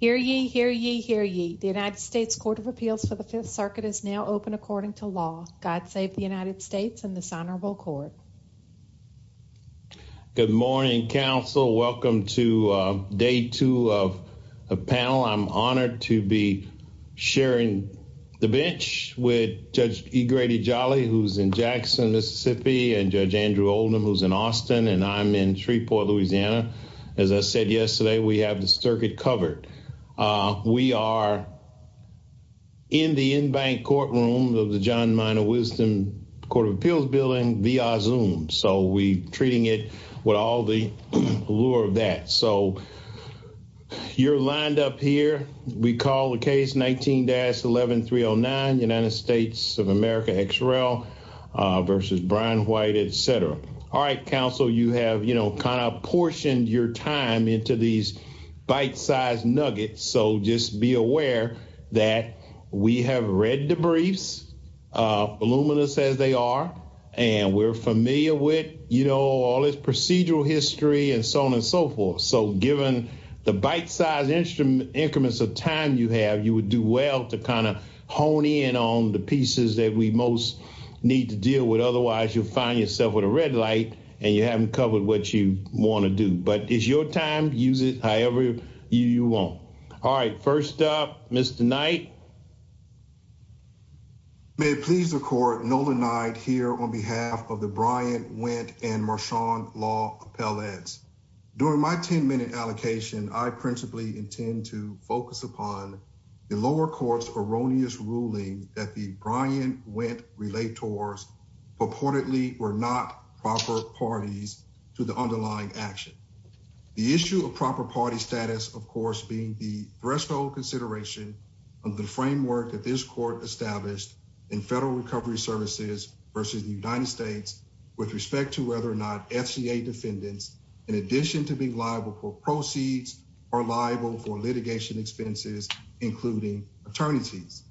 Hear ye, hear ye, hear ye. The United States Court of Appeals for the 5th Circuit is now open according to law. God save the United States and the Honorable Court. Good morning, counsel. Welcome to day two of the panel. I'm honored to be sharing the bench with Judge E. Grady Jolly, who's in Jackson, Mississippi, and Judge Andrew Oldham, who's in Austin, and I'm in Shreveport, Louisiana. As I said yesterday, we have the circuit covered. We are in the in-bank courtroom of the John Minor Wisdom Court of Appeals building via Zoom, so we're treating it with all the allure of that. So you're lined up here. We call the case 19-11309, United States of America XRL versus Bryan White, etc. All right, counsel, you have, you know, kind of portioned your time into these bite-sized nuggets, so just be aware that we have read the briefs, voluminous as they are, and we're familiar with, you know, all this procedural history and so on and so forth. So given the bite-sized instruments of time you have, you would do well to kind of hone in on the pieces that we most need to deal with. Otherwise, you'll find yourself with a red light, and you haven't covered what you want to do. But it's your time. Use it however you want. All right, first up, Mr. Knight. May it please the Court, Nolan Knight here on behalf of the Bryant-Wendt and Marchand Law Appellates. During my 10-minute allocation, I principally intend to focus upon the lower court's erroneous ruling that the Bryant-Wendt relators purportedly were not proper parties to the underlying action. The issue of proper party status, of course, being the threshold consideration of the framework that this Court established in Federal Recovery Services versus the United States with respect to whether or not FCA defendants, in addition to being liable for proceeds, are liable for litigation expenses, including attorneys.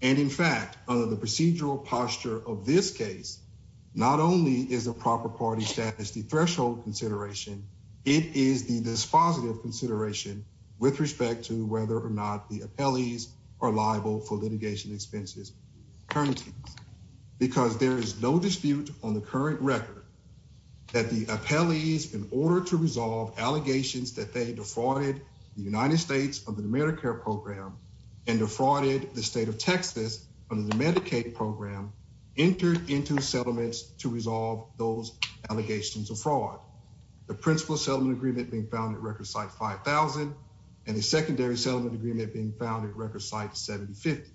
And in fact, under the procedural posture of this case, not only is a proper party status the threshold consideration, it is the dispositive consideration with respect to whether or not the appellees are liable for litigation expenses currently. Because there is no dispute on the current record that the appellees, in order to resolve allegations that they defrauded the United States under the Medicare program and defrauded the state of Texas under the Medicaid program, entered into settlements to resolve those allegations of fraud. The principal settlement agreement being found at Record Site 5000 and the secondary settlement agreement being found at Record Site 7050.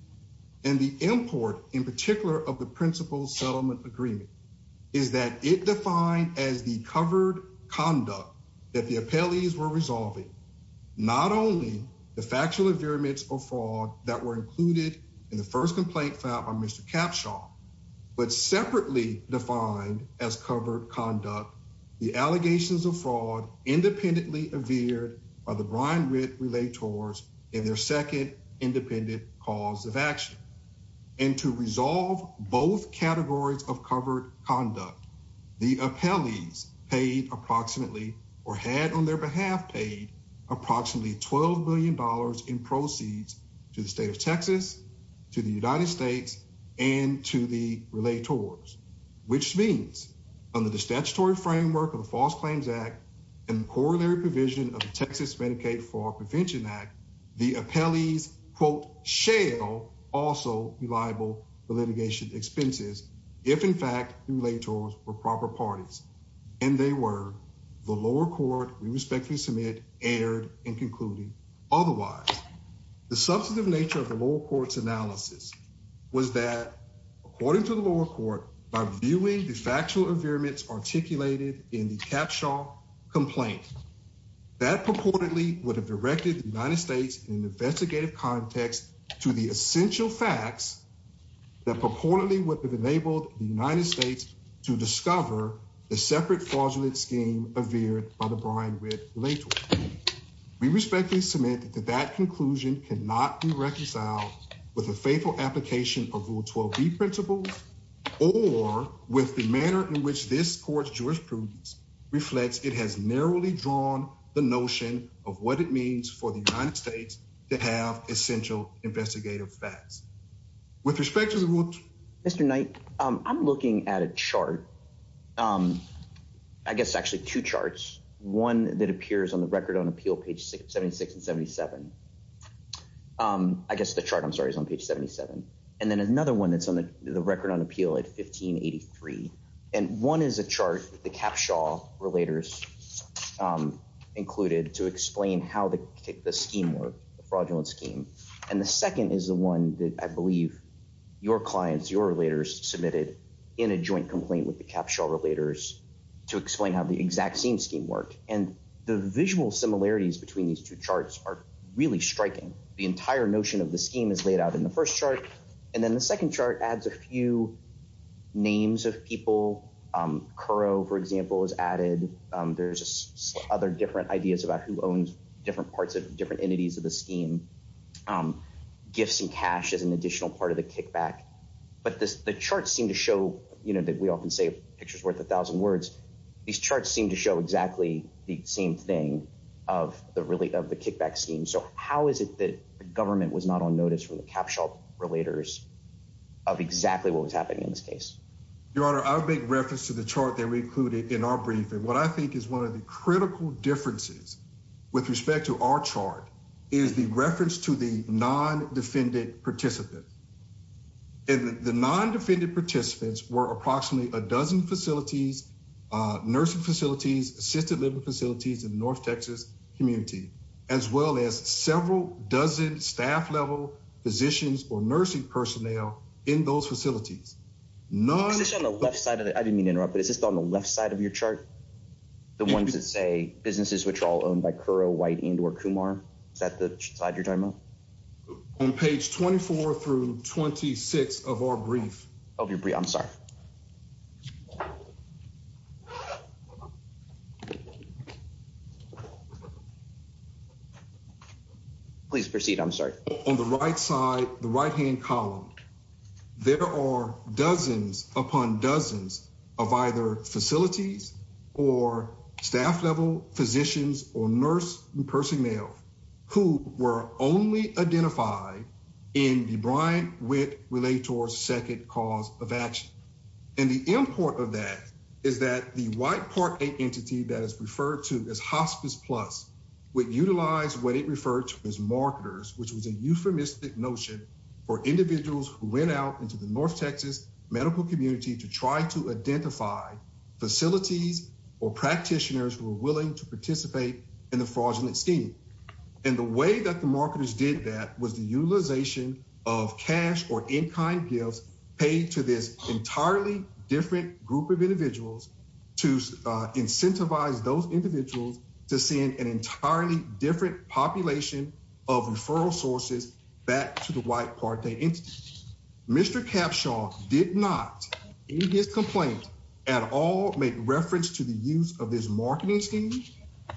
And the import, in particular, of the principal settlement agreement is that it defined as the covered conduct that the appellees were resolving, not only the factual agreements of fraud that were included in the first complaint filed by Mr. Capshaw, but separately defined as covered conduct, the allegations of fraud independently averred by the Brian Ritt Relators in their second independent cause of action. And to resolve both categories of covered conduct, the appellees paid approximately or had on their behalf paid approximately $12 billion in proceeds to the state of Texas, to the United States, and to the Relators, which means under the statutory framework of the False Claims Act and the corollary provision of the Texas Medicaid Fraud Prevention Act, the appellees, quote, shall also be liable for litigation expenses if, in fact, Relators were proper parties. And they were. The lower court, we respectfully submit, erred in concluding otherwise. The substantive nature of the lower court's analysis was that, according to the lower court, by viewing the factual averements articulated in the Capshaw complaint, that purportedly would have directed the United States in an investigative context to the essential facts that purportedly would have enabled the United States to discover the separate fraudulent scheme averred by the Brian Ritt Relators. We respectfully submit that that conclusion cannot be reconciled with a faithful application of Rule 12b principles or with the manner in which this court's jurisprudence reflects. It has narrowly drawn the notion of what it means for the United States to have essential investigative facts. With respect to the rule... Mr. Knight, I'm looking at a chart. I guess, actually, two charts. One that appears on the Record on Appeal, page 76 and 77. I guess the chart, I'm sorry, is on page 77. And then another one that's on the Record on Appeal at 1583. And one is a chart with the Capshaw Relators included to explain how the scheme worked, the fraudulent scheme. And the second is the one that I believe your clients, your Relators, submitted in a joint complaint with the Capshaw Relators to explain how the exact same scheme worked. And the visual similarities between these two charts are really striking. The entire notion of the scheme is laid out in the first chart. And then the second chart adds a few names of people. Curro, for example, is added. There's just other different ideas about who owns different parts of different entities of the scheme. Gifts and cash is an additional part of the kickback. But the charts seem to show, you know, that we often say a picture's worth a thousand words. These charts seem to show exactly the same thing of the kickback scheme. So how is it that the government was not on notice from the Capshaw Relators of exactly what was happening in this case? Your Honor, I'll make reference to the chart that we included in our briefing. What I think is one of the critical differences with respect to our chart is the reference to the non-defended participants. And the non-defended participants were approximately a dozen facilities, nursing facilities, assisted living facilities in the North Texas community, as well as several dozen staff level physicians or nursing personnel in those facilities. Is this on the left side of the, I didn't mean to interrupt, but is this on the left side of your chart? The ones that say businesses which are all owned by Curro, White, and or Kumar? Is that the side you're talking about? On page 24 through 26 of our brief. Of your brief, I'm sorry. Please proceed, I'm sorry. On the right side, the right hand column, there are dozens upon dozens of either facilities or staff level physicians or nurse personnel who were only identified in the Bryant-Witt-Relator's second cause of action. And the import of that is that the White Part A entity that is referred to as Hospice Plus would utilize what it referred to as marketers, which was a euphemistic notion for individuals who went out into the North Texas medical community to try to identify facilities or practitioners who were willing to participate in the fraudulent scheme. And the way that the marketers did that was the utilization of cash or in-kind gifts paid to this entirely different group of individuals to incentivize those individuals to send an entirely different population of referral sources back to the White Part A entity. Mr. Capshaw did not, in his complaint, at all make reference to the use of this marketing scheme,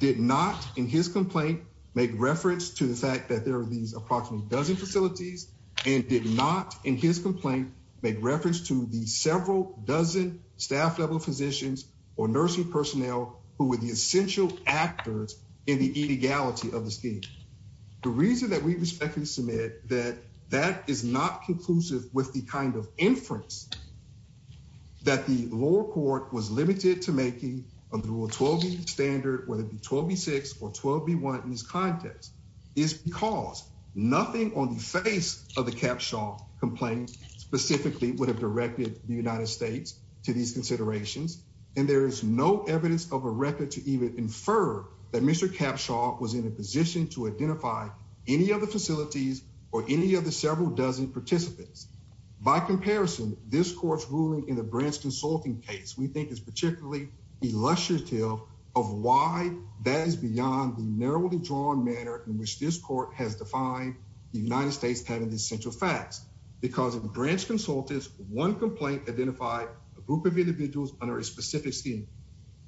did not, in his complaint, make reference to the fact that there are these approximately dozen facilities, and did not, in his complaint, make reference to the several dozen staff level physicians or nursing personnel who were the essential actors in the inegality of the scheme. The reason that we respectfully submit that that is not conclusive with the kind of inference that the lower court was limited to making under Rule 12b standard, whether it be 12b6 or 12b1 in this context, is because nothing on the face of the Capshaw complaint specifically would have directed the United States to these considerations, and there is no evidence of a record to even infer that Mr. Capshaw was in a position to identify any of the facilities or any of the dozen participants. By comparison, this court's ruling in the branch consulting case, we think, is particularly illustrative of why that is beyond the narrowly drawn manner in which this court has defined the United States having the essential facts. Because of the branch consultants, one complaint identified a group of individuals under a specific scheme.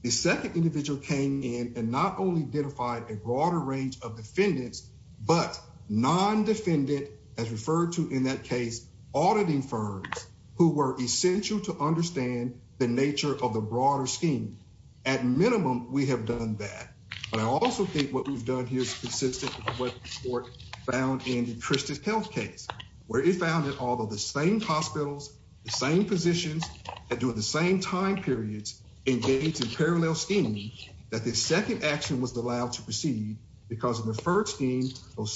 The second individual came in and not only identified a broader range of defendants, but non-defendant, as referred to in that case, auditing firms who were essential to understand the nature of the broader scheme. At minimum, we have done that, but I also think what we've done here is consistent with what the court found in the Christus Health case, where it found that although the same hospitals, the same physicians, that during the same time periods engaged in those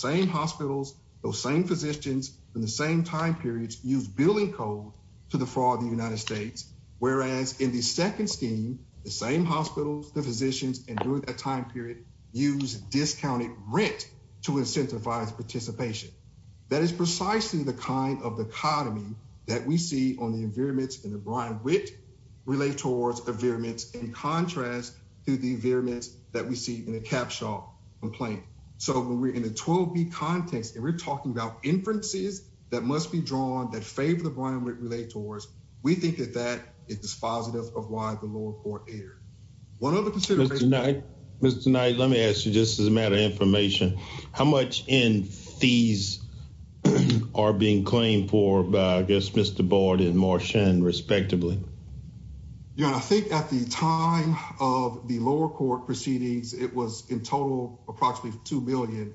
same hospitals, those same physicians in the same time periods used billing code to defraud the United States, whereas in the second scheme, the same hospitals, the physicians, and during that time period used discounted rent to incentivize participation. That is precisely the kind of dichotomy that we see on the environments in the Brian Witt relate towards environments in contrast to the environments that we see in the Capshaw complaint. So, when we're in a 12-B context and we're talking about inferences that must be drawn that favor the Brian Witt relate towards, we think that that is positive of why the lower court erred. One other consideration. Mr. Knight, let me ask you, just as a matter of information, how much in fees are being claimed for by, I guess, Mr. Bard and Marchand, respectively? Yeah, I think at the time of the lower court proceedings, it was in total approximately $2 million,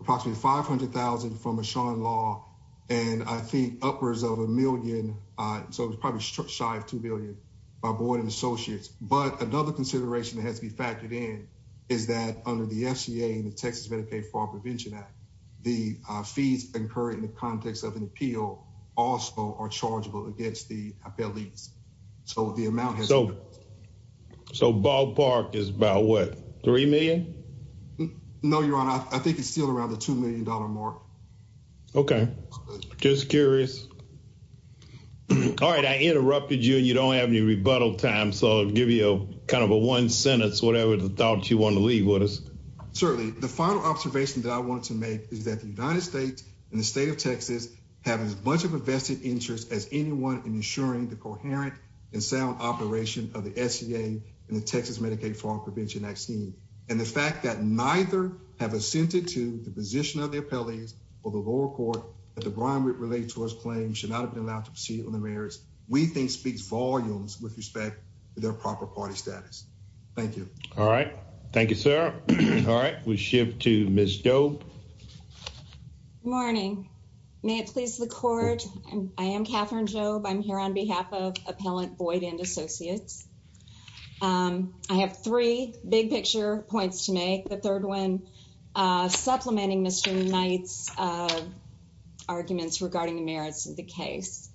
approximately $500,000 from Marchand law, and I think upwards of a million. So, it was probably shy of $2 million by Bard and Associates. But another consideration that has to be factored in is that under the FCA and the Texas Medicaid Fraud Prevention Act, the fees incurred in the appellees. So, the amount has... So, Ball Park is about, what, $3 million? No, Your Honor. I think it's still around the $2 million mark. Okay. Just curious. All right. I interrupted you and you don't have any rebuttal time, so I'll give you kind of a one sentence, whatever the thoughts you want to leave with us. Certainly. The final observation that I wanted to make is that the United States and the state of Texas have as much of a vested interest as anyone in ensuring the coherent and sound operation of the FCA and the Texas Medicaid Fraud Prevention Act scheme. And the fact that neither have assented to the position of the appellees or the lower court that the Brian Whitt Related Tories claim should not have been allowed to proceed on the merits, we think speaks volumes with respect to their proper party status. Thank you. All right. Thank you, sir. All right. We'll shift to Ms. Doeb. Good morning. May it please the court, I am Katherine Doeb. I'm here on behalf of Appellant Boyd and Associates. I have three big picture points to make. The third one, supplementing Mr. Knight's arguments regarding the merits of the case.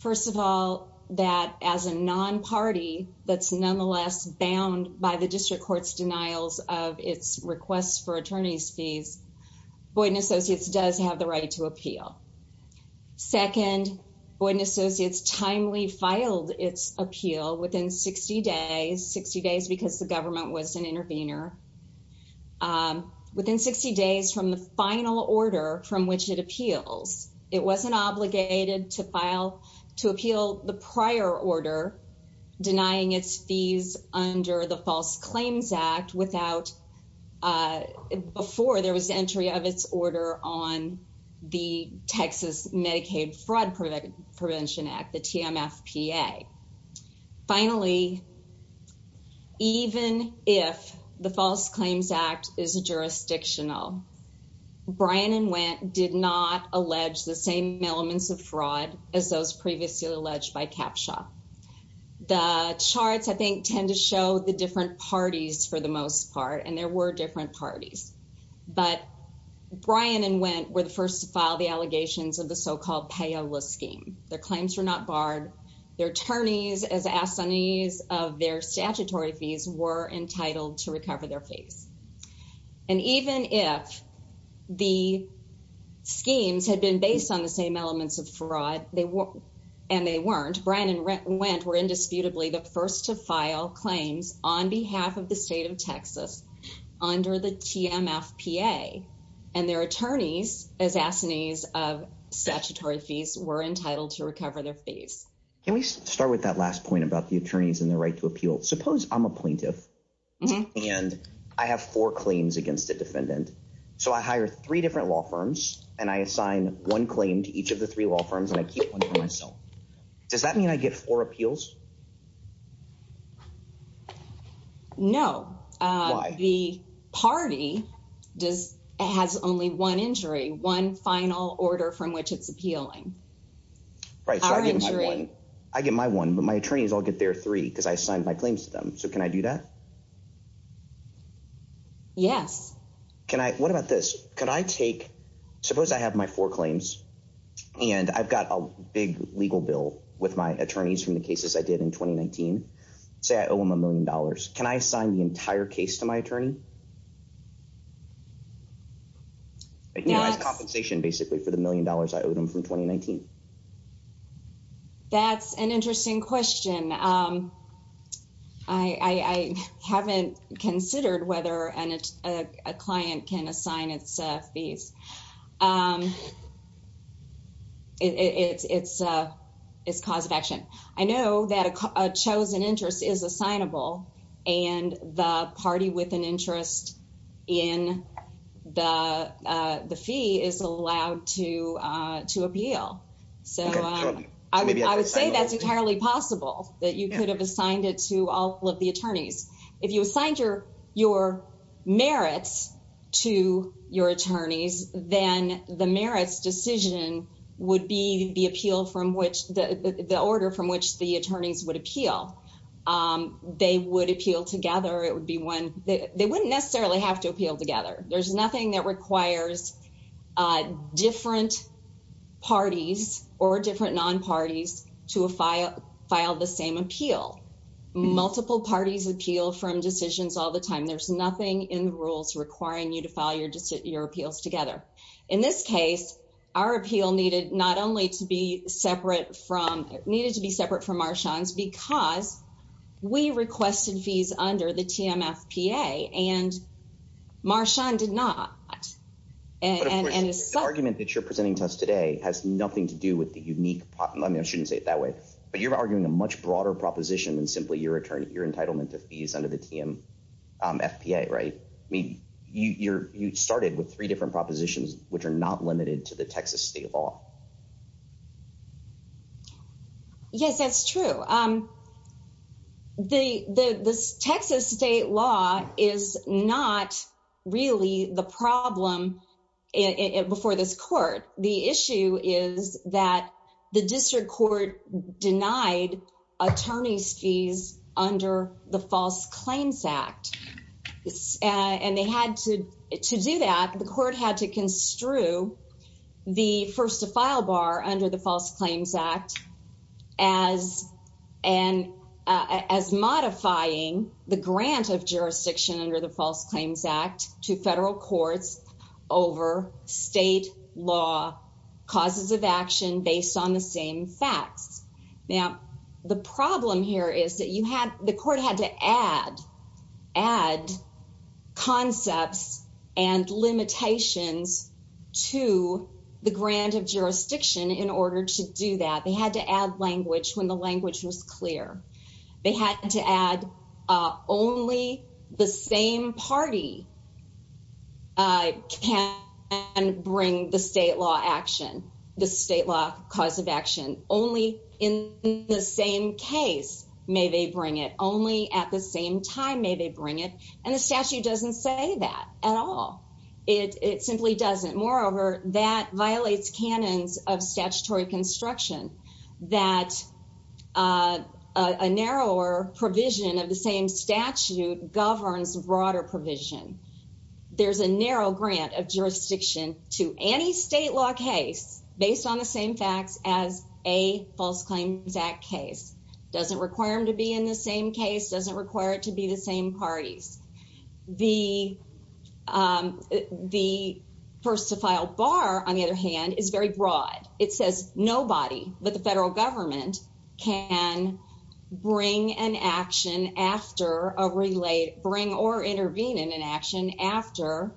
First of all, that as a non-party that's nonetheless bound by the district court's denials of its requests for attorney's Boyd and Associates does have the right to appeal. Second, Boyd and Associates timely filed its appeal within 60 days, 60 days because the government was an intervener, within 60 days from the final order from which it appeals. It wasn't obligated to file, to appeal the prior order denying its fees under the False Claims Act without, uh, before there was entry of its order on the Texas Medicaid Fraud Prevention Act, the TMFPA. Finally, even if the False Claims Act is jurisdictional, Bryan and Wendt did not allege the same elements of fraud as those previously alleged by Capshaw. The charts, I think, tend to show the different parties for the most part, and there were different parties. But Bryan and Wendt were the first to file the allegations of the so-called payola scheme. Their claims were not barred. Their attorneys, as assignees of their statutory fees, were entitled to recover their fees. And even if the schemes had been based on the same elements of fraud, and they weren't, Bryan and Wendt were indisputably the first to file claims on behalf of the state of Texas under the TMFPA. And their attorneys, as assignees of statutory fees, were entitled to recover their fees. Can we start with that last point about the attorneys and the right to appeal? Suppose I'm a plaintiff and I have four claims against a defendant. So I hire three law firms and I keep one for myself. Does that mean I get four appeals? No. Why? The party has only one injury, one final order from which it's appealing. Right, so I get my one, but my attorneys all get their three because I assigned my claims to them. So can I do that? Yes. What about this? Suppose I have my four claims and I've got a big legal bill with my attorneys from the cases I did in 2019. Say I owe them a million dollars. Can I assign the entire case to my attorney? I can utilize compensation basically for the million dollars I owed them from 2019. That's an interesting question. I haven't considered whether a client can assign its fees. It's a cause of action. I know that a chosen interest is assignable and the party with an interest in the fee is allowed to appeal. So I would say that's entirely possible that you could have assigned it to all of the attorneys. If you assigned your merits to your attorneys, then the merits decision would be the order from which the attorneys would appeal. They would appeal together. They wouldn't necessarily have to appeal together. There's nothing that requires different parties or different non-parties to file the same appeal. Multiple parties appeal from decisions all the time. There's nothing in the rules requiring you to file your appeals together. In this case, our appeal needed to be separate from Marshawn's because we requested fees under the TMFPA and Marshawn did not. The argument that you're presenting to us today has nothing to do with the unique, I mean I shouldn't say it that way, but you're arguing a much broader proposition than simply your entitlement to fees under the TMFPA, right? You started with three different propositions which are not limited to the Texas state law. Yes, that's true. The Texas state law is not really the problem before this court. The issue is that the district court denied attorney's fees under the False Claims Act. To do that, the court had to construe the first to file bar under the False Claims Act as modifying the grant of jurisdiction under the facts. Now, the problem here is that the court had to add concepts and limitations to the grant of jurisdiction in order to do that. They had to add language when the language was clear. They had to add only the same party can bring the state law action, only in the same case may they bring it, only at the same time may they bring it, and the statute doesn't say that at all. It simply doesn't. Moreover, that violates canons of statutory construction that a narrower provision of the same statute governs broader provision. There's a narrow grant of jurisdiction to any state law case based on the same facts as a False Claims Act case. Doesn't require them to be in the same case, doesn't require it to be the same parties. The first to file bar, on the other hand, is very broad. It says nobody but the federal government can bring or intervene in an action after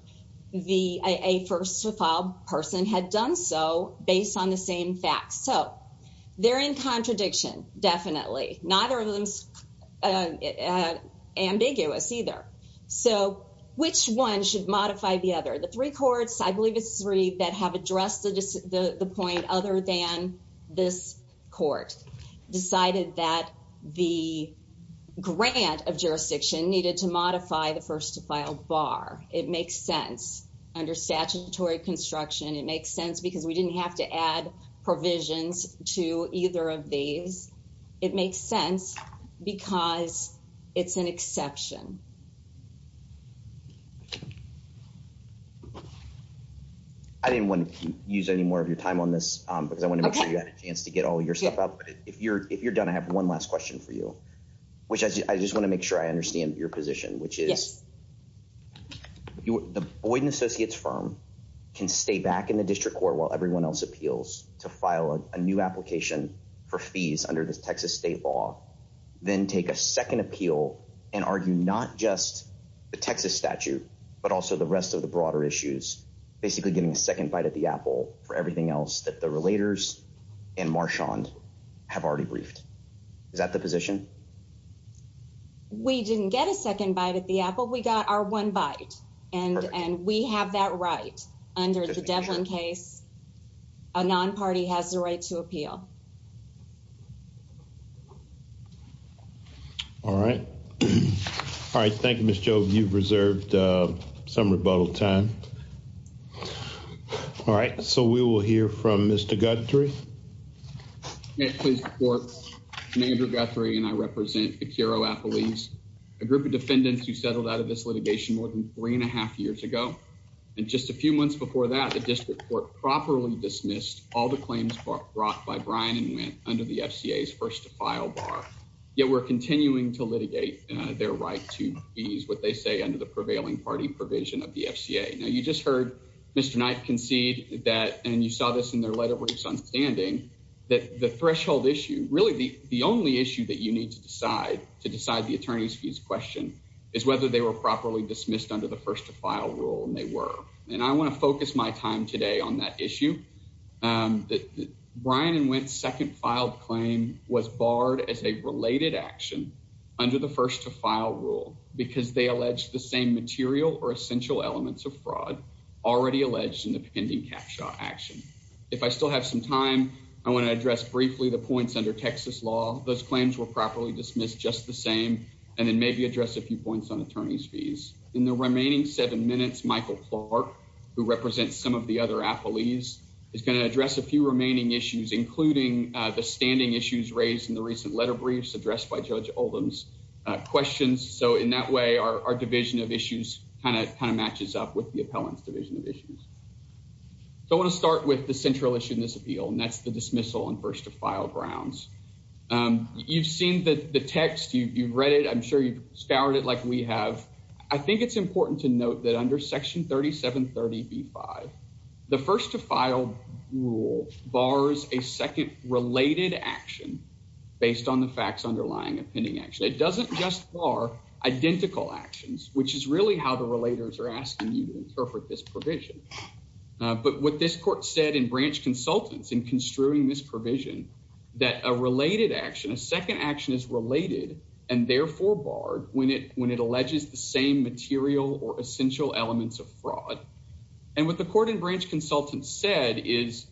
a first to file person had done so based on the same facts. They're in contradiction, definitely. Neither of them is ambiguous, either. Which one should modify the other? The three courts, I believe it's three that have decided that the grant of jurisdiction needed to modify the first to file bar. It makes sense under statutory construction. It makes sense because we didn't have to add provisions to either of these. It makes sense because it's an exception. I didn't want to use any more of your time on this because I want to make sure you had a chance to get all your stuff up. If you're done, I have one last question for you, which I just want to make sure I understand your position, which is the Boyd & Associates firm can stay back in the district court while everyone else appeals to file a new application for fees under the Texas state law, then take a second appeal and argue not just the Texas statute but also the rest of the broader issues, basically getting a second bite at the apple for everything else that the relators and Marchand have already briefed. Is that the position? We didn't get a second bite at the apple. We got our one bite and we have that right under the Devlin case. A non-party has the right to appeal. All right. All right. Thank you, Ms. Jove. You've reserved some rebuttal time. All right. So we will hear from Mr. Guthrie. May it please the court, I'm Andrew Guthrie and I represent Akiro Appelese, a group of defendants who settled out of this litigation more than three and a half years ago. And just a few months before that, the district court properly dismissed all the claims brought by Bryan and Wendt under the yet we're continuing to litigate their right to ease what they say under the prevailing party provision of the FCA. Now you just heard Mr. Knight concede that, and you saw this in their letter where his son's standing, that the threshold issue, really the only issue that you need to decide, to decide the attorney's fees question, is whether they were properly dismissed under the first to file rule and they were. And I want to focus my time today on that issue. Bryan and Wendt's second filed claim was barred as a related action under the first to file rule because they alleged the same material or essential elements of fraud already alleged in the pending cap shot action. If I still have some time, I want to address briefly the points under Texas law. Those claims were properly dismissed, just the same, and then maybe address a few points on attorney's fees. In the remaining seven minutes, Michael Clark, who represents some of the other appellees, is going to address a few remaining issues, including the standing issues raised in the recent letter briefs addressed by Judge Oldham's questions. So in that way, our division of issues kind of matches up with the appellant's division of issues. So I want to start with the central issue in this appeal, and that's the dismissal on first to file grounds. You've seen the text. You've read it. I'm sure you've scoured it like we have. I think it's important to note that under section 3730b5, the first to file rule bars a second related action based on the facts underlying a pending action. It doesn't just bar identical actions, which is really how the relators are asking you to interpret this provision. But what this court said in branch consultants in construing this provision, that a related action, a second action is related and therefore barred when it alleges the same material or essential elements of fraud. And what the court in branch consultants said is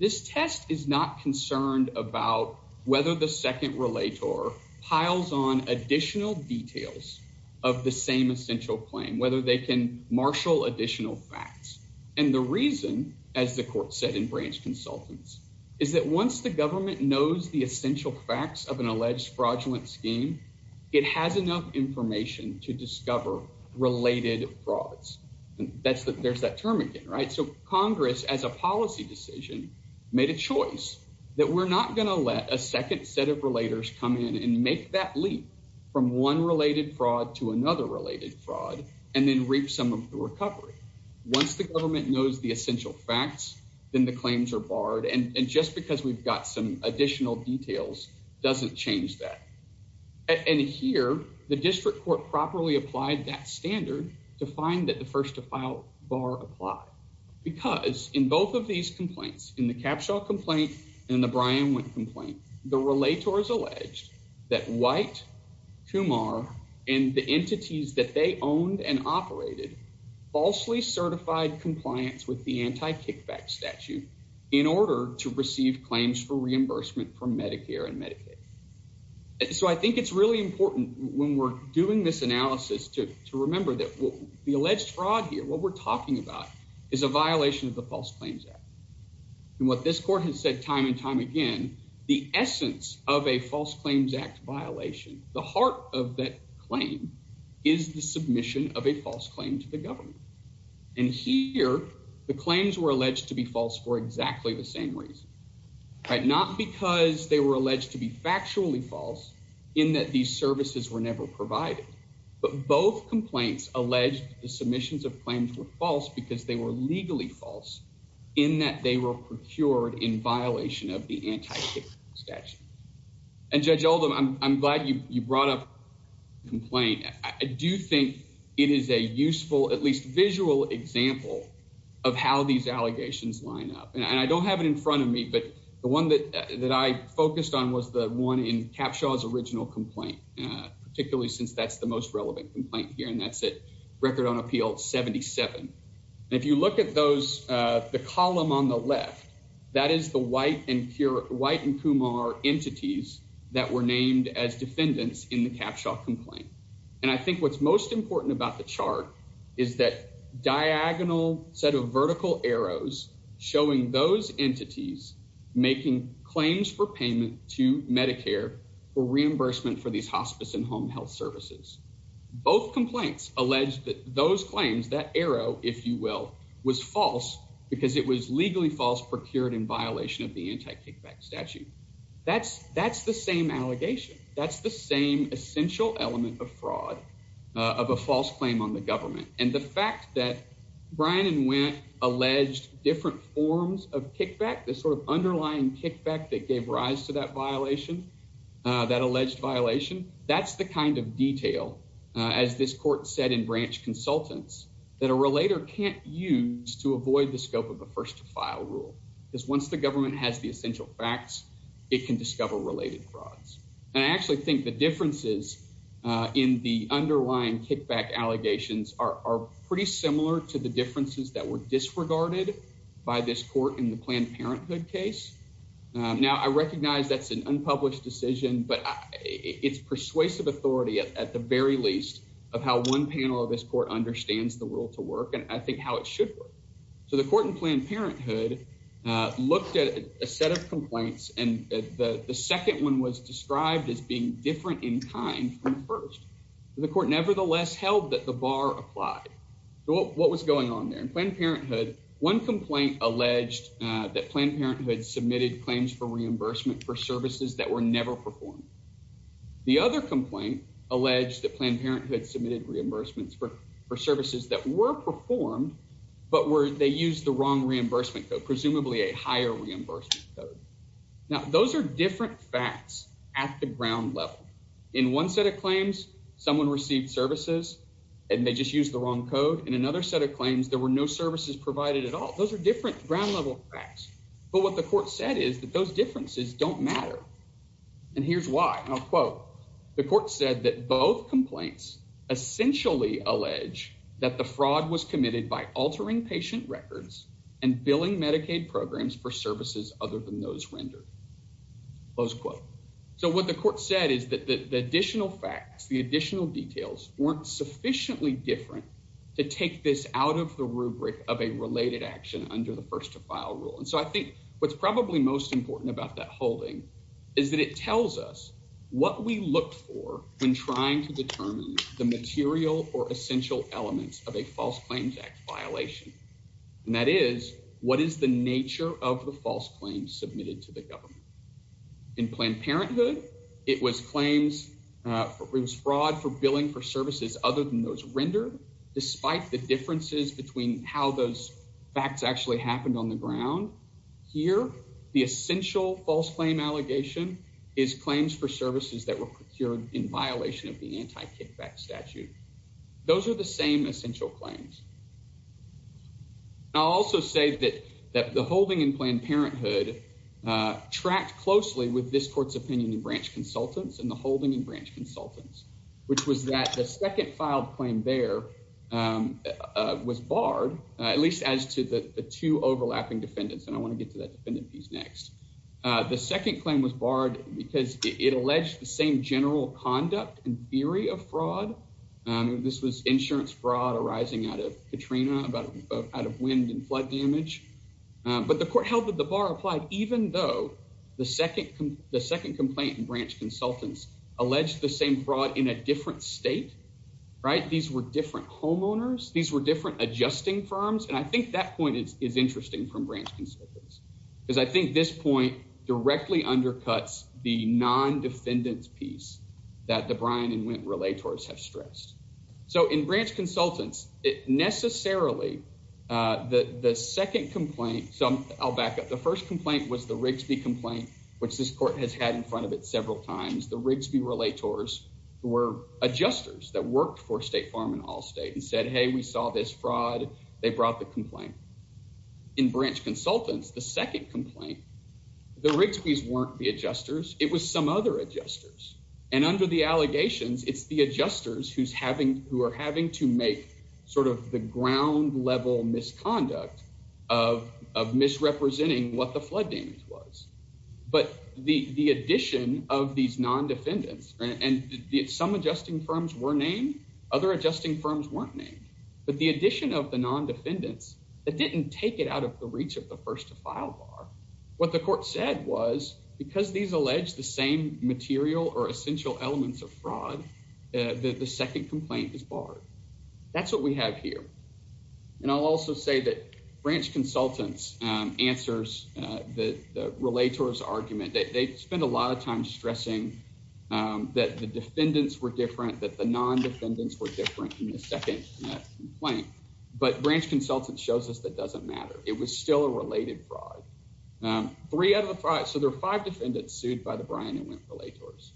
this test is not concerned about whether the second relator piles on additional details of the same essential claim, whether they can marshal additional facts. And the reason, as the court said in branch consultants, is that once the government knows the essential facts of an alleged fraudulent scheme, it has enough information to discover related frauds. There's that term again, right? So Congress, as a policy decision, made a choice that we're not going to let a second set of relators come in and make that leap from one related fraud to another related fraud and then reap some of the recovery. Once the government knows the essential facts, then the claims are and just because we've got some additional details doesn't change that. And here, the district court properly applied that standard to find that the first to file bar apply because in both of these complaints in the capsule complaint and the Brian went complaint, the relator is alleged that white Kumar and the entities that they owned and operated falsely certified compliance with the anti kickback statute in order to receive claims for reimbursement from Medicare and Medicaid. So I think it's really important when we're doing this analysis to remember that the alleged fraud here, what we're talking about is a violation of the False Claims Act. And what this court has said time and time again, the essence of a False Claims Act violation, the heart of that is the submission of a false claim to the government. And here, the claims were alleged to be false for exactly the same reason, right, not because they were alleged to be factually false, in that these services were never provided. But both complaints alleged the submissions of claims were false because they were legally false, in that they were procured in violation of the I do think it is a useful at least visual example of how these allegations line up. And I don't have it in front of me. But the one that that I focused on was the one in capsules original complaint, particularly since that's the most relevant complaint here. And that's it. Record on appeal 77. If you look at those, the column on the left, that is the white and pure white and Kumar entities that were named as defendants in the capsule complaint. And I think what's most important about the chart is that diagonal set of vertical arrows showing those entities making claims for payment to Medicare for reimbursement for these hospice and home health services. Both complaints alleged that those claims that arrow, if you will, was false, because it was that's the same allegation. That's the same essential element of fraud of a false claim on the government. And the fact that Brian and went alleged different forms of kickback, the sort of underlying kickback that gave rise to that violation, that alleged violation, that's the kind of detail, as this court said in branch consultants, that a relator can't use to avoid the scope of the first file rule, because once the government has the essential facts, it can discover related frauds. And I actually think the differences in the underlying kickback allegations are pretty similar to the differences that were disregarded by this court in the Planned Parenthood case. Now, I recognize that's an unpublished decision, but it's persuasive authority, at the very least, of how one panel of this court understands the rule to work, and I think how it should work. So the court in Planned Parenthood looked at a set of complaints, and the second one was described as being different in kind from the first. The court nevertheless held that the bar applied. So what was going on there? In Planned Parenthood, one complaint alleged that Planned Parenthood submitted claims for reimbursement for services that were never performed. The other complaint alleged that Planned Parenthood submitted reimbursements for services that were performed, but they used the reimbursement code, presumably a higher reimbursement code. Now, those are different facts at the ground level. In one set of claims, someone received services, and they just used the wrong code. In another set of claims, there were no services provided at all. Those are different ground-level facts. But what the court said is that those differences don't matter, and here's why. And I'll quote. The court said that both complaints essentially allege that the fraud was and billing Medicaid programs for services other than those rendered, close quote. So what the court said is that the additional facts, the additional details weren't sufficiently different to take this out of the rubric of a related action under the first-to-file rule. And so I think what's probably most important about that holding is that it tells us what we look for when trying to determine the material or essential elements of a False Claims Act violation. And that is, what is the nature of the false claims submitted to the government? In Planned Parenthood, it was claims, it was fraud for billing for services other than those rendered, despite the differences between how those facts actually happened on the ground. Here, the essential false claim allegation is claims for services that were procured in violation of the anti-kickback statute. Those are the same essential claims. I'll also say that the holding in Planned Parenthood tracked closely with this court's opinion in branch consultants and the holding in branch consultants, which was that the second filed claim there was barred, at least as to the two because it alleged the same general conduct and theory of fraud. This was insurance fraud arising out of Katrina, out of wind and flood damage. But the court held that the bar applied, even though the second complaint in branch consultants alleged the same fraud in a different state, right? These were different homeowners. These were different adjusting firms. And I think that point is interesting from branch consultants because I think this point directly undercuts the non-defendant's piece that the Bryan and Wynne relators have stressed. So in branch consultants, it necessarily, the second complaint, so I'll back up. The first complaint was the Rigsby complaint, which this court has had in front of it several times. The Rigsby relators were adjusters that worked for State Farm and Allstate and said, hey, we saw this fraud. They brought the complaint. In branch consultants, the second complaint, the Rigsby's weren't the adjusters. It was some other adjusters. And under the allegations, it's the adjusters who are having to make sort of the ground level misconduct of misrepresenting what the flood damage was. But the addition of these non-defendants, and some adjusting firms were named, other adjusting firms weren't named. But the addition of the non-defendants, it didn't take it out of the reach of the first to file bar. What the court said was, because these allege the same material or essential elements of fraud, the second complaint is barred. That's what we have here. And I'll also say that branch consultants answers the relator's argument that they spend a lot of time stressing that the defendants were different, that the non-defendants were different in the second complaint. But branch consultant shows us that doesn't matter. It was still a related fraud. Three out of the five, so there are five defendants sued by the Bryan and Wendt Relators.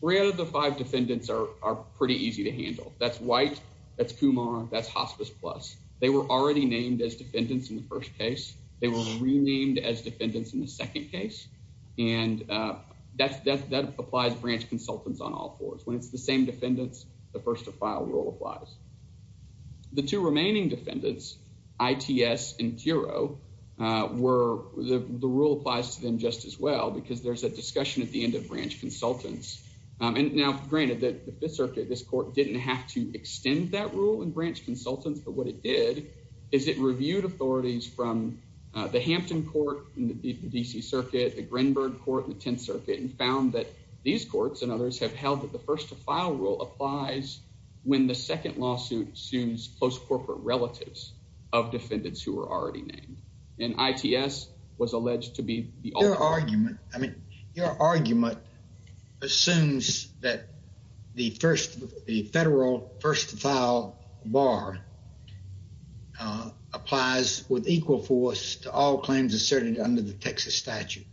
Three out of the five defendants are pretty easy to handle. That's White, that's Kumar, that's Hospice Plus. They were already named as defendants in the first case. They were renamed as defendants in the second case. And that applies to branch consultants on all fours. When it's the same defendants, the first to file rule applies. The two remaining defendants, ITS and Tiro, the rule applies to them just as well because there's a discussion at the end of branch consultants. And now, granted, the Fifth Circuit, this court didn't have to extend that rule in branch consultants. But what it did is it reviewed authorities from the Hampton Court in the D.C. Circuit, the Greenberg Court in the Tenth Circuit, and found that these courts and first to file rule applies when the second lawsuit sues close corporate relatives of defendants who were already named. And ITS was alleged to be the ultimate. Your argument assumes that the first, the federal first to file bar applies with equal force to all claims asserted under the Texas statute.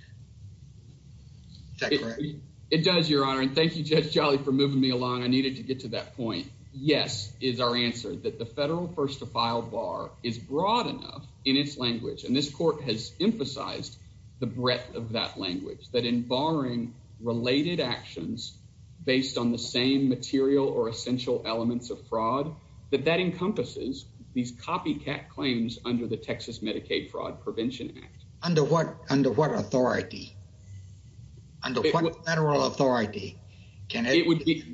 Is that correct? It does, Your Honor. And thank you, Judge Jolly, for moving me along. I needed to get to that point. Yes is our answer, that the federal first to file bar is broad enough in its language. And this court has emphasized the breadth of that language, that in barring related actions based on the same material or essential elements of fraud, that that encompasses these copycat claims under the Texas Medicaid Fraud Prevention Act. Under what authority? Under what federal authority can the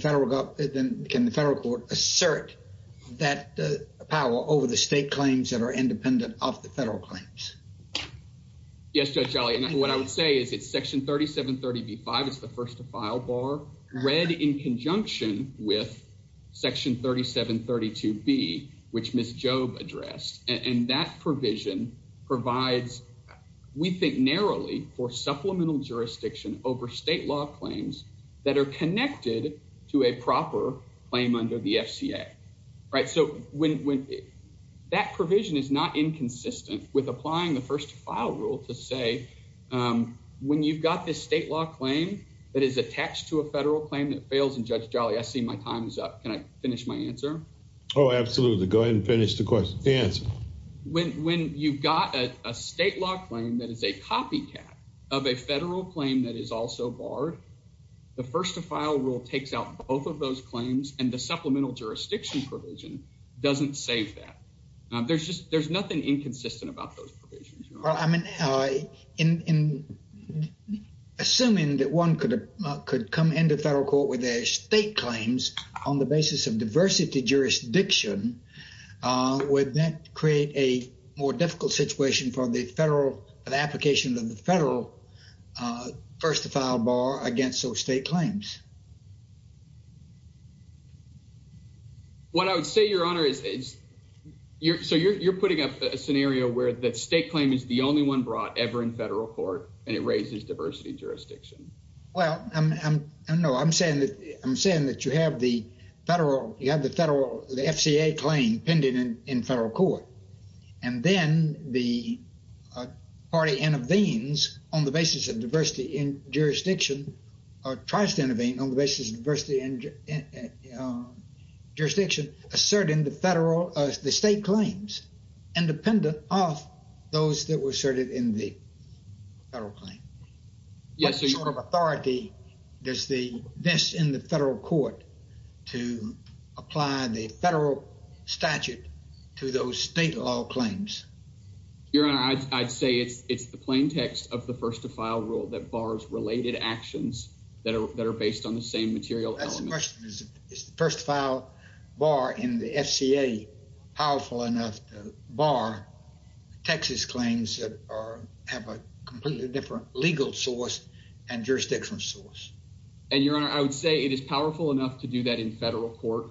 federal court assert that power over the state claims that are independent of the federal claims? Yes, Judge Jolly. And what I would say is it's section 3730b-5, it's the first to file bar, read in conjunction with section 3732b, which Ms. Jobe addressed. And that provision provides, we think narrowly, for supplemental jurisdiction over state law claims that are connected to a proper claim under the FCA, right? So when that provision is not inconsistent with applying the state law claim that is attached to a federal claim that fails, and Judge Jolly, I see my time is up. Can I finish my answer? Oh, absolutely. Go ahead and finish the question, the answer. When you've got a state law claim that is a copycat of a federal claim that is also barred, the first to file rule takes out both of those claims, and the supplemental jurisdiction provision doesn't save that. There's just, there's nothing inconsistent about those provisions. Well, I mean, in assuming that one could come into federal court with their state claims on the basis of diversity jurisdiction, would that create a more difficult situation for the federal, the application of the federal first to file bar against those state claims? What I would say, Your Honor, is, so you're putting up a scenario where the state claim is the only one brought ever in federal court, and it raises diversity jurisdiction. Well, I'm, no, I'm saying that, I'm saying that you have the federal, you have the federal, the FCA claim pending in federal court, and then the party intervenes on the basis of diversity in jurisdiction, or tries to intervene on the basis of diversity in jurisdiction, asserting the federal, the state claims, independent of those that were asserted in the federal claim. What sort of authority does the, this in the federal court to apply the federal statute to those state law claims? Your Honor, I'd say it's, it's the plain text of the first to file rule that bars related actions that are, that are based on the same material element. Is the first file bar in the FCA powerful enough to bar Texas claims that are, have a completely different legal source and jurisdiction source? And, Your Honor, I would say it is powerful enough to do that in federal court.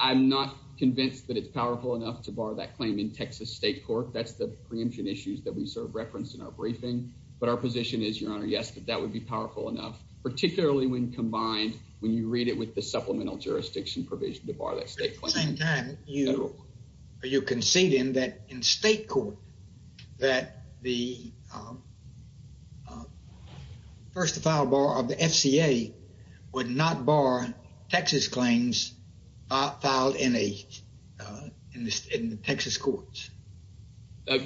I'm not convinced that it's powerful enough to bar that claim in Texas state court. That's the preemption issues that we sort of referenced in our briefing, but our position is, Your Honor, yes, that that would be powerful enough, particularly when combined, when you read it with the supplemental jurisdiction provision to bar that state claim. At the same time, are you conceding that in state court that the first to file bar of the FCA would not bar Texas claims filed in a, in the Texas courts?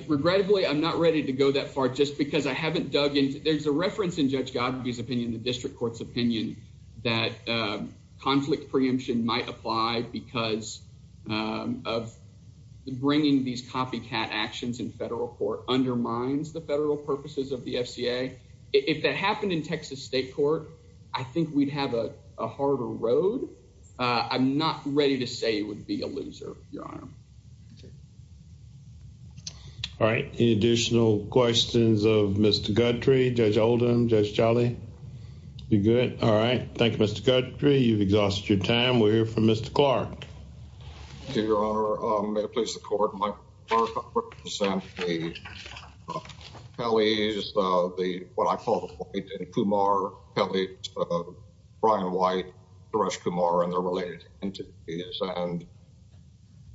Regrettably, I'm not ready to go that far just because I haven't dug into, there's a reference in Judge Godfrey's opinion, the district court's opinion, that conflict preemption might apply because of bringing these copycat actions in federal court undermines the federal purposes of the FCA. If that happened in Texas state court, I think we'd have a harder road. I'm not ready to say it would be a loser, Your Honor. Okay. All right. Any additional questions of Mr. Godfrey, Judge Oldham, Judge Jolly? We good? All right. Thank you, Mr. Godfrey. You've exhausted your time. We'll hear from Mr. Clark. Thank you, Your Honor. May it please the court, my first represent the Kellys, the, what I call the white and Kumar Kellys, Brian White, Suresh Kumar and their related entities. And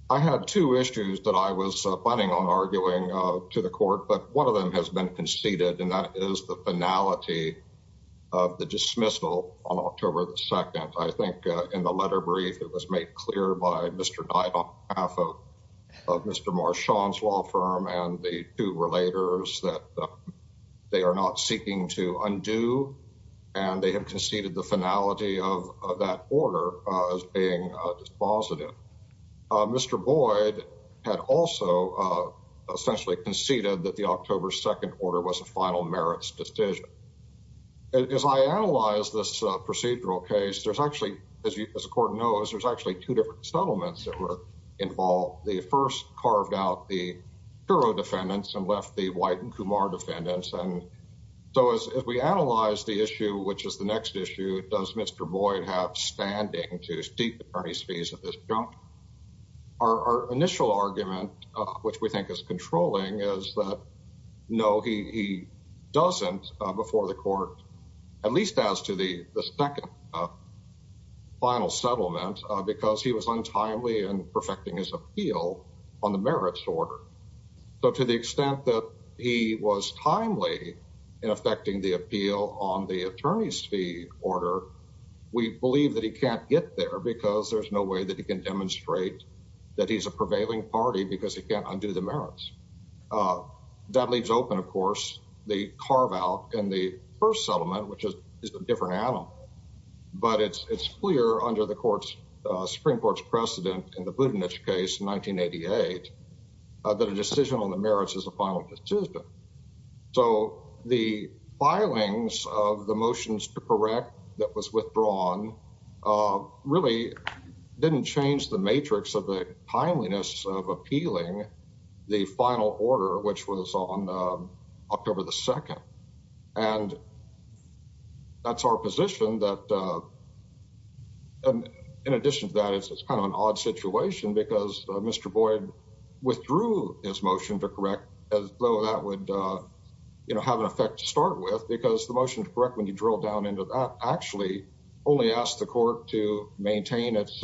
I had two issues that I was planning on arguing to the court, but one of them has been conceded, and that is the finality of the dismissal on October the 2nd. I think in the letter brief, it was made clear by Mr. Dyed on behalf of Mr. Marshawn's law firm and the two relators that they are not seeking to undo. And they have conceded the finality of that order as being dispositive. Mr. Boyd had also essentially conceded that the October 2nd order was a final merits decision. As I analyze this procedural case, there's actually, as the court knows, there's actually two different settlements that were involved. The first carved out the Kuro defendants and left the white and Kumar defendants. And so as we analyze the issue, which is the next issue, does Mr. Boyd have standing to seek attorney's fees at this juncture? Our initial argument, which we think is controlling, is that no, he doesn't before the court, at least as to the second final settlement, because he was untimely in perfecting his appeal on the merits order. So to the extent that he was timely in effecting the appeal on the attorney's fee order, we believe that he can't get there because there's no way that he can demonstrate that he's a prevailing party because he can't undo the merits. That leaves open, of course, the carve out and the first settlement, which is a different animal. But it's clear under the that a decision on the merits is a final decision. So the filings of the motions to correct that was withdrawn really didn't change the matrix of the timeliness of appealing the final order, which was on October the 2nd. And that's our position that in addition to that, it's kind of an odd situation because Mr. Boyd withdrew his motion to correct as though that would have an effect to start with because the motion to correct when you drill down into that actually only asked the court to maintain its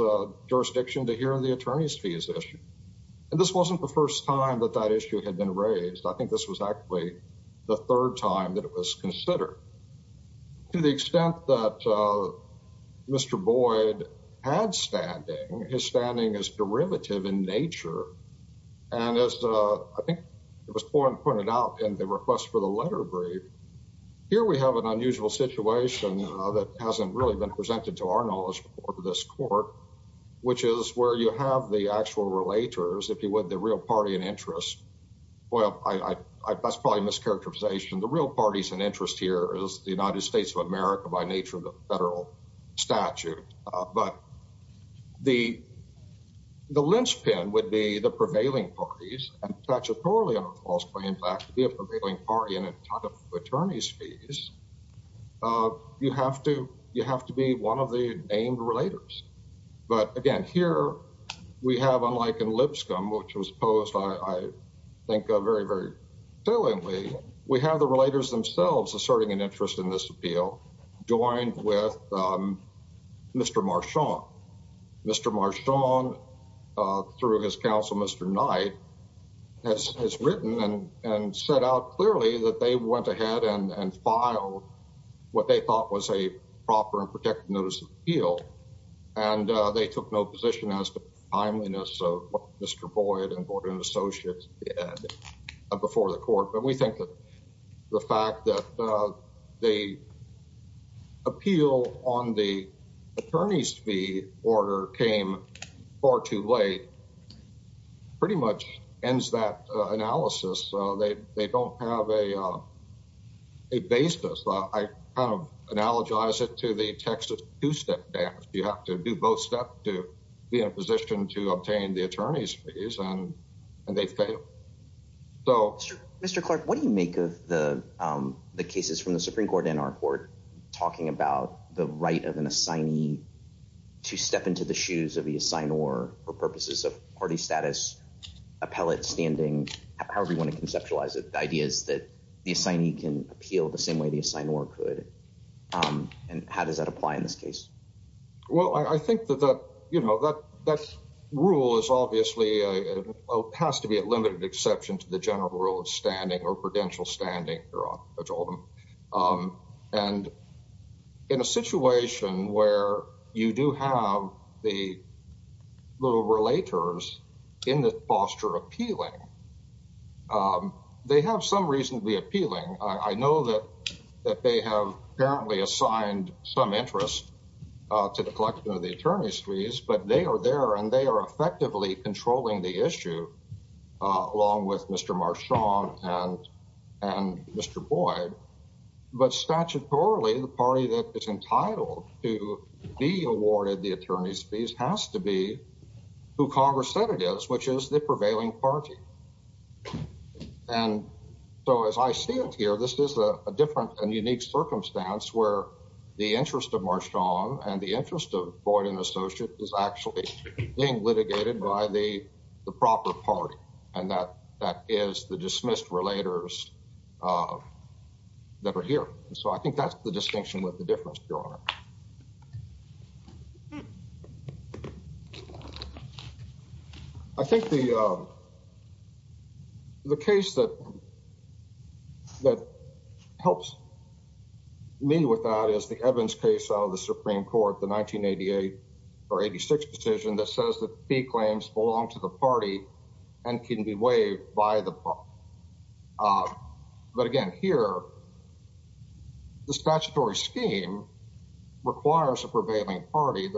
jurisdiction to hear the attorney's fees issue. And this wasn't the first time that that issue had been raised. I think this was actually the third time that it was considered. To the extent that Mr. Boyd had standing, his standing is derivative in nature. And as I think it was pointed out in the request for the letter brief, here we have an unusual situation that hasn't really been presented to our knowledge before to this court, which is where you have the actual relators, if you would, the real party in interest. Well, that's probably a mischaracterization. The real parties in interest here is the United States of America by nature of the federal statute. But the linchpin would be the prevailing parties and statutorily on a false claim back to be a prevailing party in a ton of attorney's fees. You have to be one of the named relators. But again, here we have, unlike in Lipscomb, which was posed, I think, very, very saliently. We have the relators themselves asserting an interest in this appeal, joined with Mr. Marchand. Mr. Marchand, through his counsel, Mr. Knight, has written and set out clearly that they went ahead and filed what they thought was a proper protective notice of appeal. And they took no position as to the timeliness of what Mr. Boyd and Gordon Associates did before the court. But we think that the fact that the appeal on the attorney's fee order came far too late pretty much ends that analysis. They don't have a basis. I kind of analogize it to the Texas two-step dance. You have to do both steps to be in a position to obtain the attorney's fees, and they fail. Mr. Clark, what do you make of the cases from the Supreme Court and our court talking about the right of an assignee to step into the shoes of the assignor for purposes of party status, appellate standing, however you want to conceptualize it. The idea is that the assignee can appeal the same way the assignor could. And how does that apply in this case? Well, I think that that rule is obviously, has to be a limited exception to the general rule of standing or prudential standing. And in a situation where you do have the little relators in the foster appealing, they have some reason to be appealing. I know that they have apparently assigned some interest to the collection of the attorney's fees, but they are there and they are effectively controlling the issue along with Mr. Marchand and Mr. Boyd. But statutorily, the party that is entitled to be awarded the attorney's fees has to be who Congress said it is, which is the prevailing party. And so as I stand here, this is a different and unique circumstance where the interest of Marchand and the interest of Boyd and Associates is actually being litigated by the proper party. And that is the dismissed relators that are here. So I the distinction with the difference, Your Honor. I think the case that helps me with that is the Evans case out of the Supreme Court, the 1988 or 86 decision that says that fee claims belong to the party and can be waived by the party. But again, here, the statutory scheme requires a prevailing party.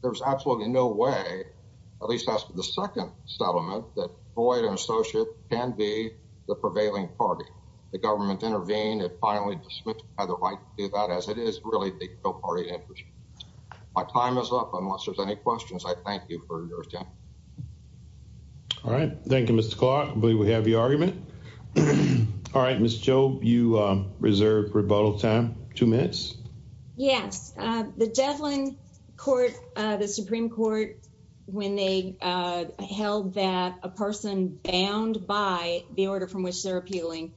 There's absolutely no way, at least as the second settlement, that Boyd and Associates can be the prevailing party. The government intervened and finally dismissed by the right to do that, as it is really the pro-party interest. My time is up. Unless there's any questions, I thank you for your time. All right. Thank you, Mr. Clark. I believe we have your argument. All right, Ms. Jobe, you reserve rebuttal time. Two minutes. Yes. The Devlin Court, the Supreme Court, when they held that a person bound by the order from which they're appealing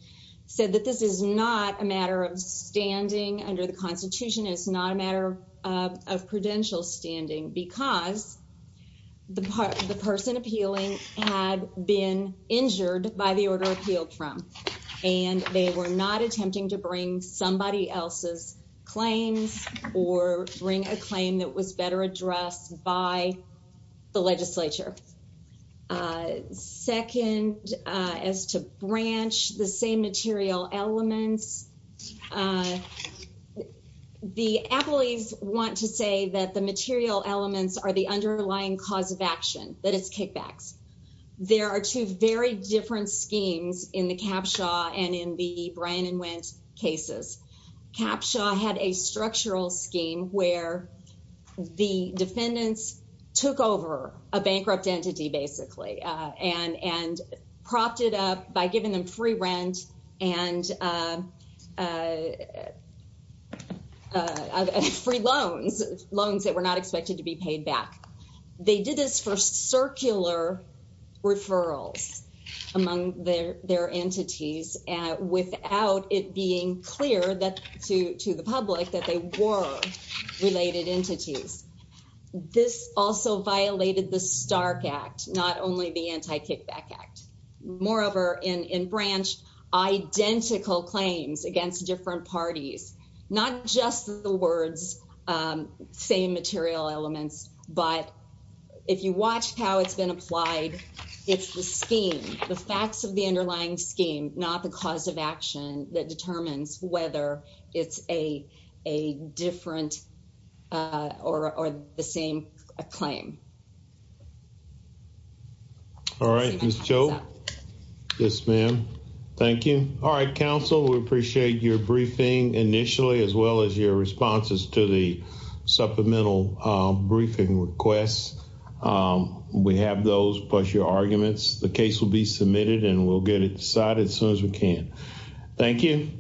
said that this is not a matter of standing under the Constitution. It's not a matter of prudential standing because the person appealing had been injured by the order appealed from and they were not attempting to bring somebody else's claims or bring a claim that was better that the material elements are the underlying cause of action, that it's kickbacks. There are two very different schemes in the Capshaw and in the Bryan and Wendt cases. Capshaw had a structural scheme where the defendants took over a bankrupt entity, basically, and propped it up by giving them free rent and free loans, loans that were not expected to be paid back. They did this for circular referrals among their entities without it being clear to the public that they were related entities. This also violated the Stark Act, not only the Anti-Kickback Act. Moreover, in Branch, identical claims against different parties, not just the words, same material elements, but if you watch how it's been applied, it's the scheme, the facts of the underlying scheme, not the cause of action that determines whether it's a different or the same claim. All right, Ms. Cho. Yes, ma'am. Thank you. All right, counsel, we appreciate your briefing initially as well as your responses to the supplemental briefing requests. We have those plus your arguments. The case will be submitted and we'll get it decided as soon as we can. Thank you.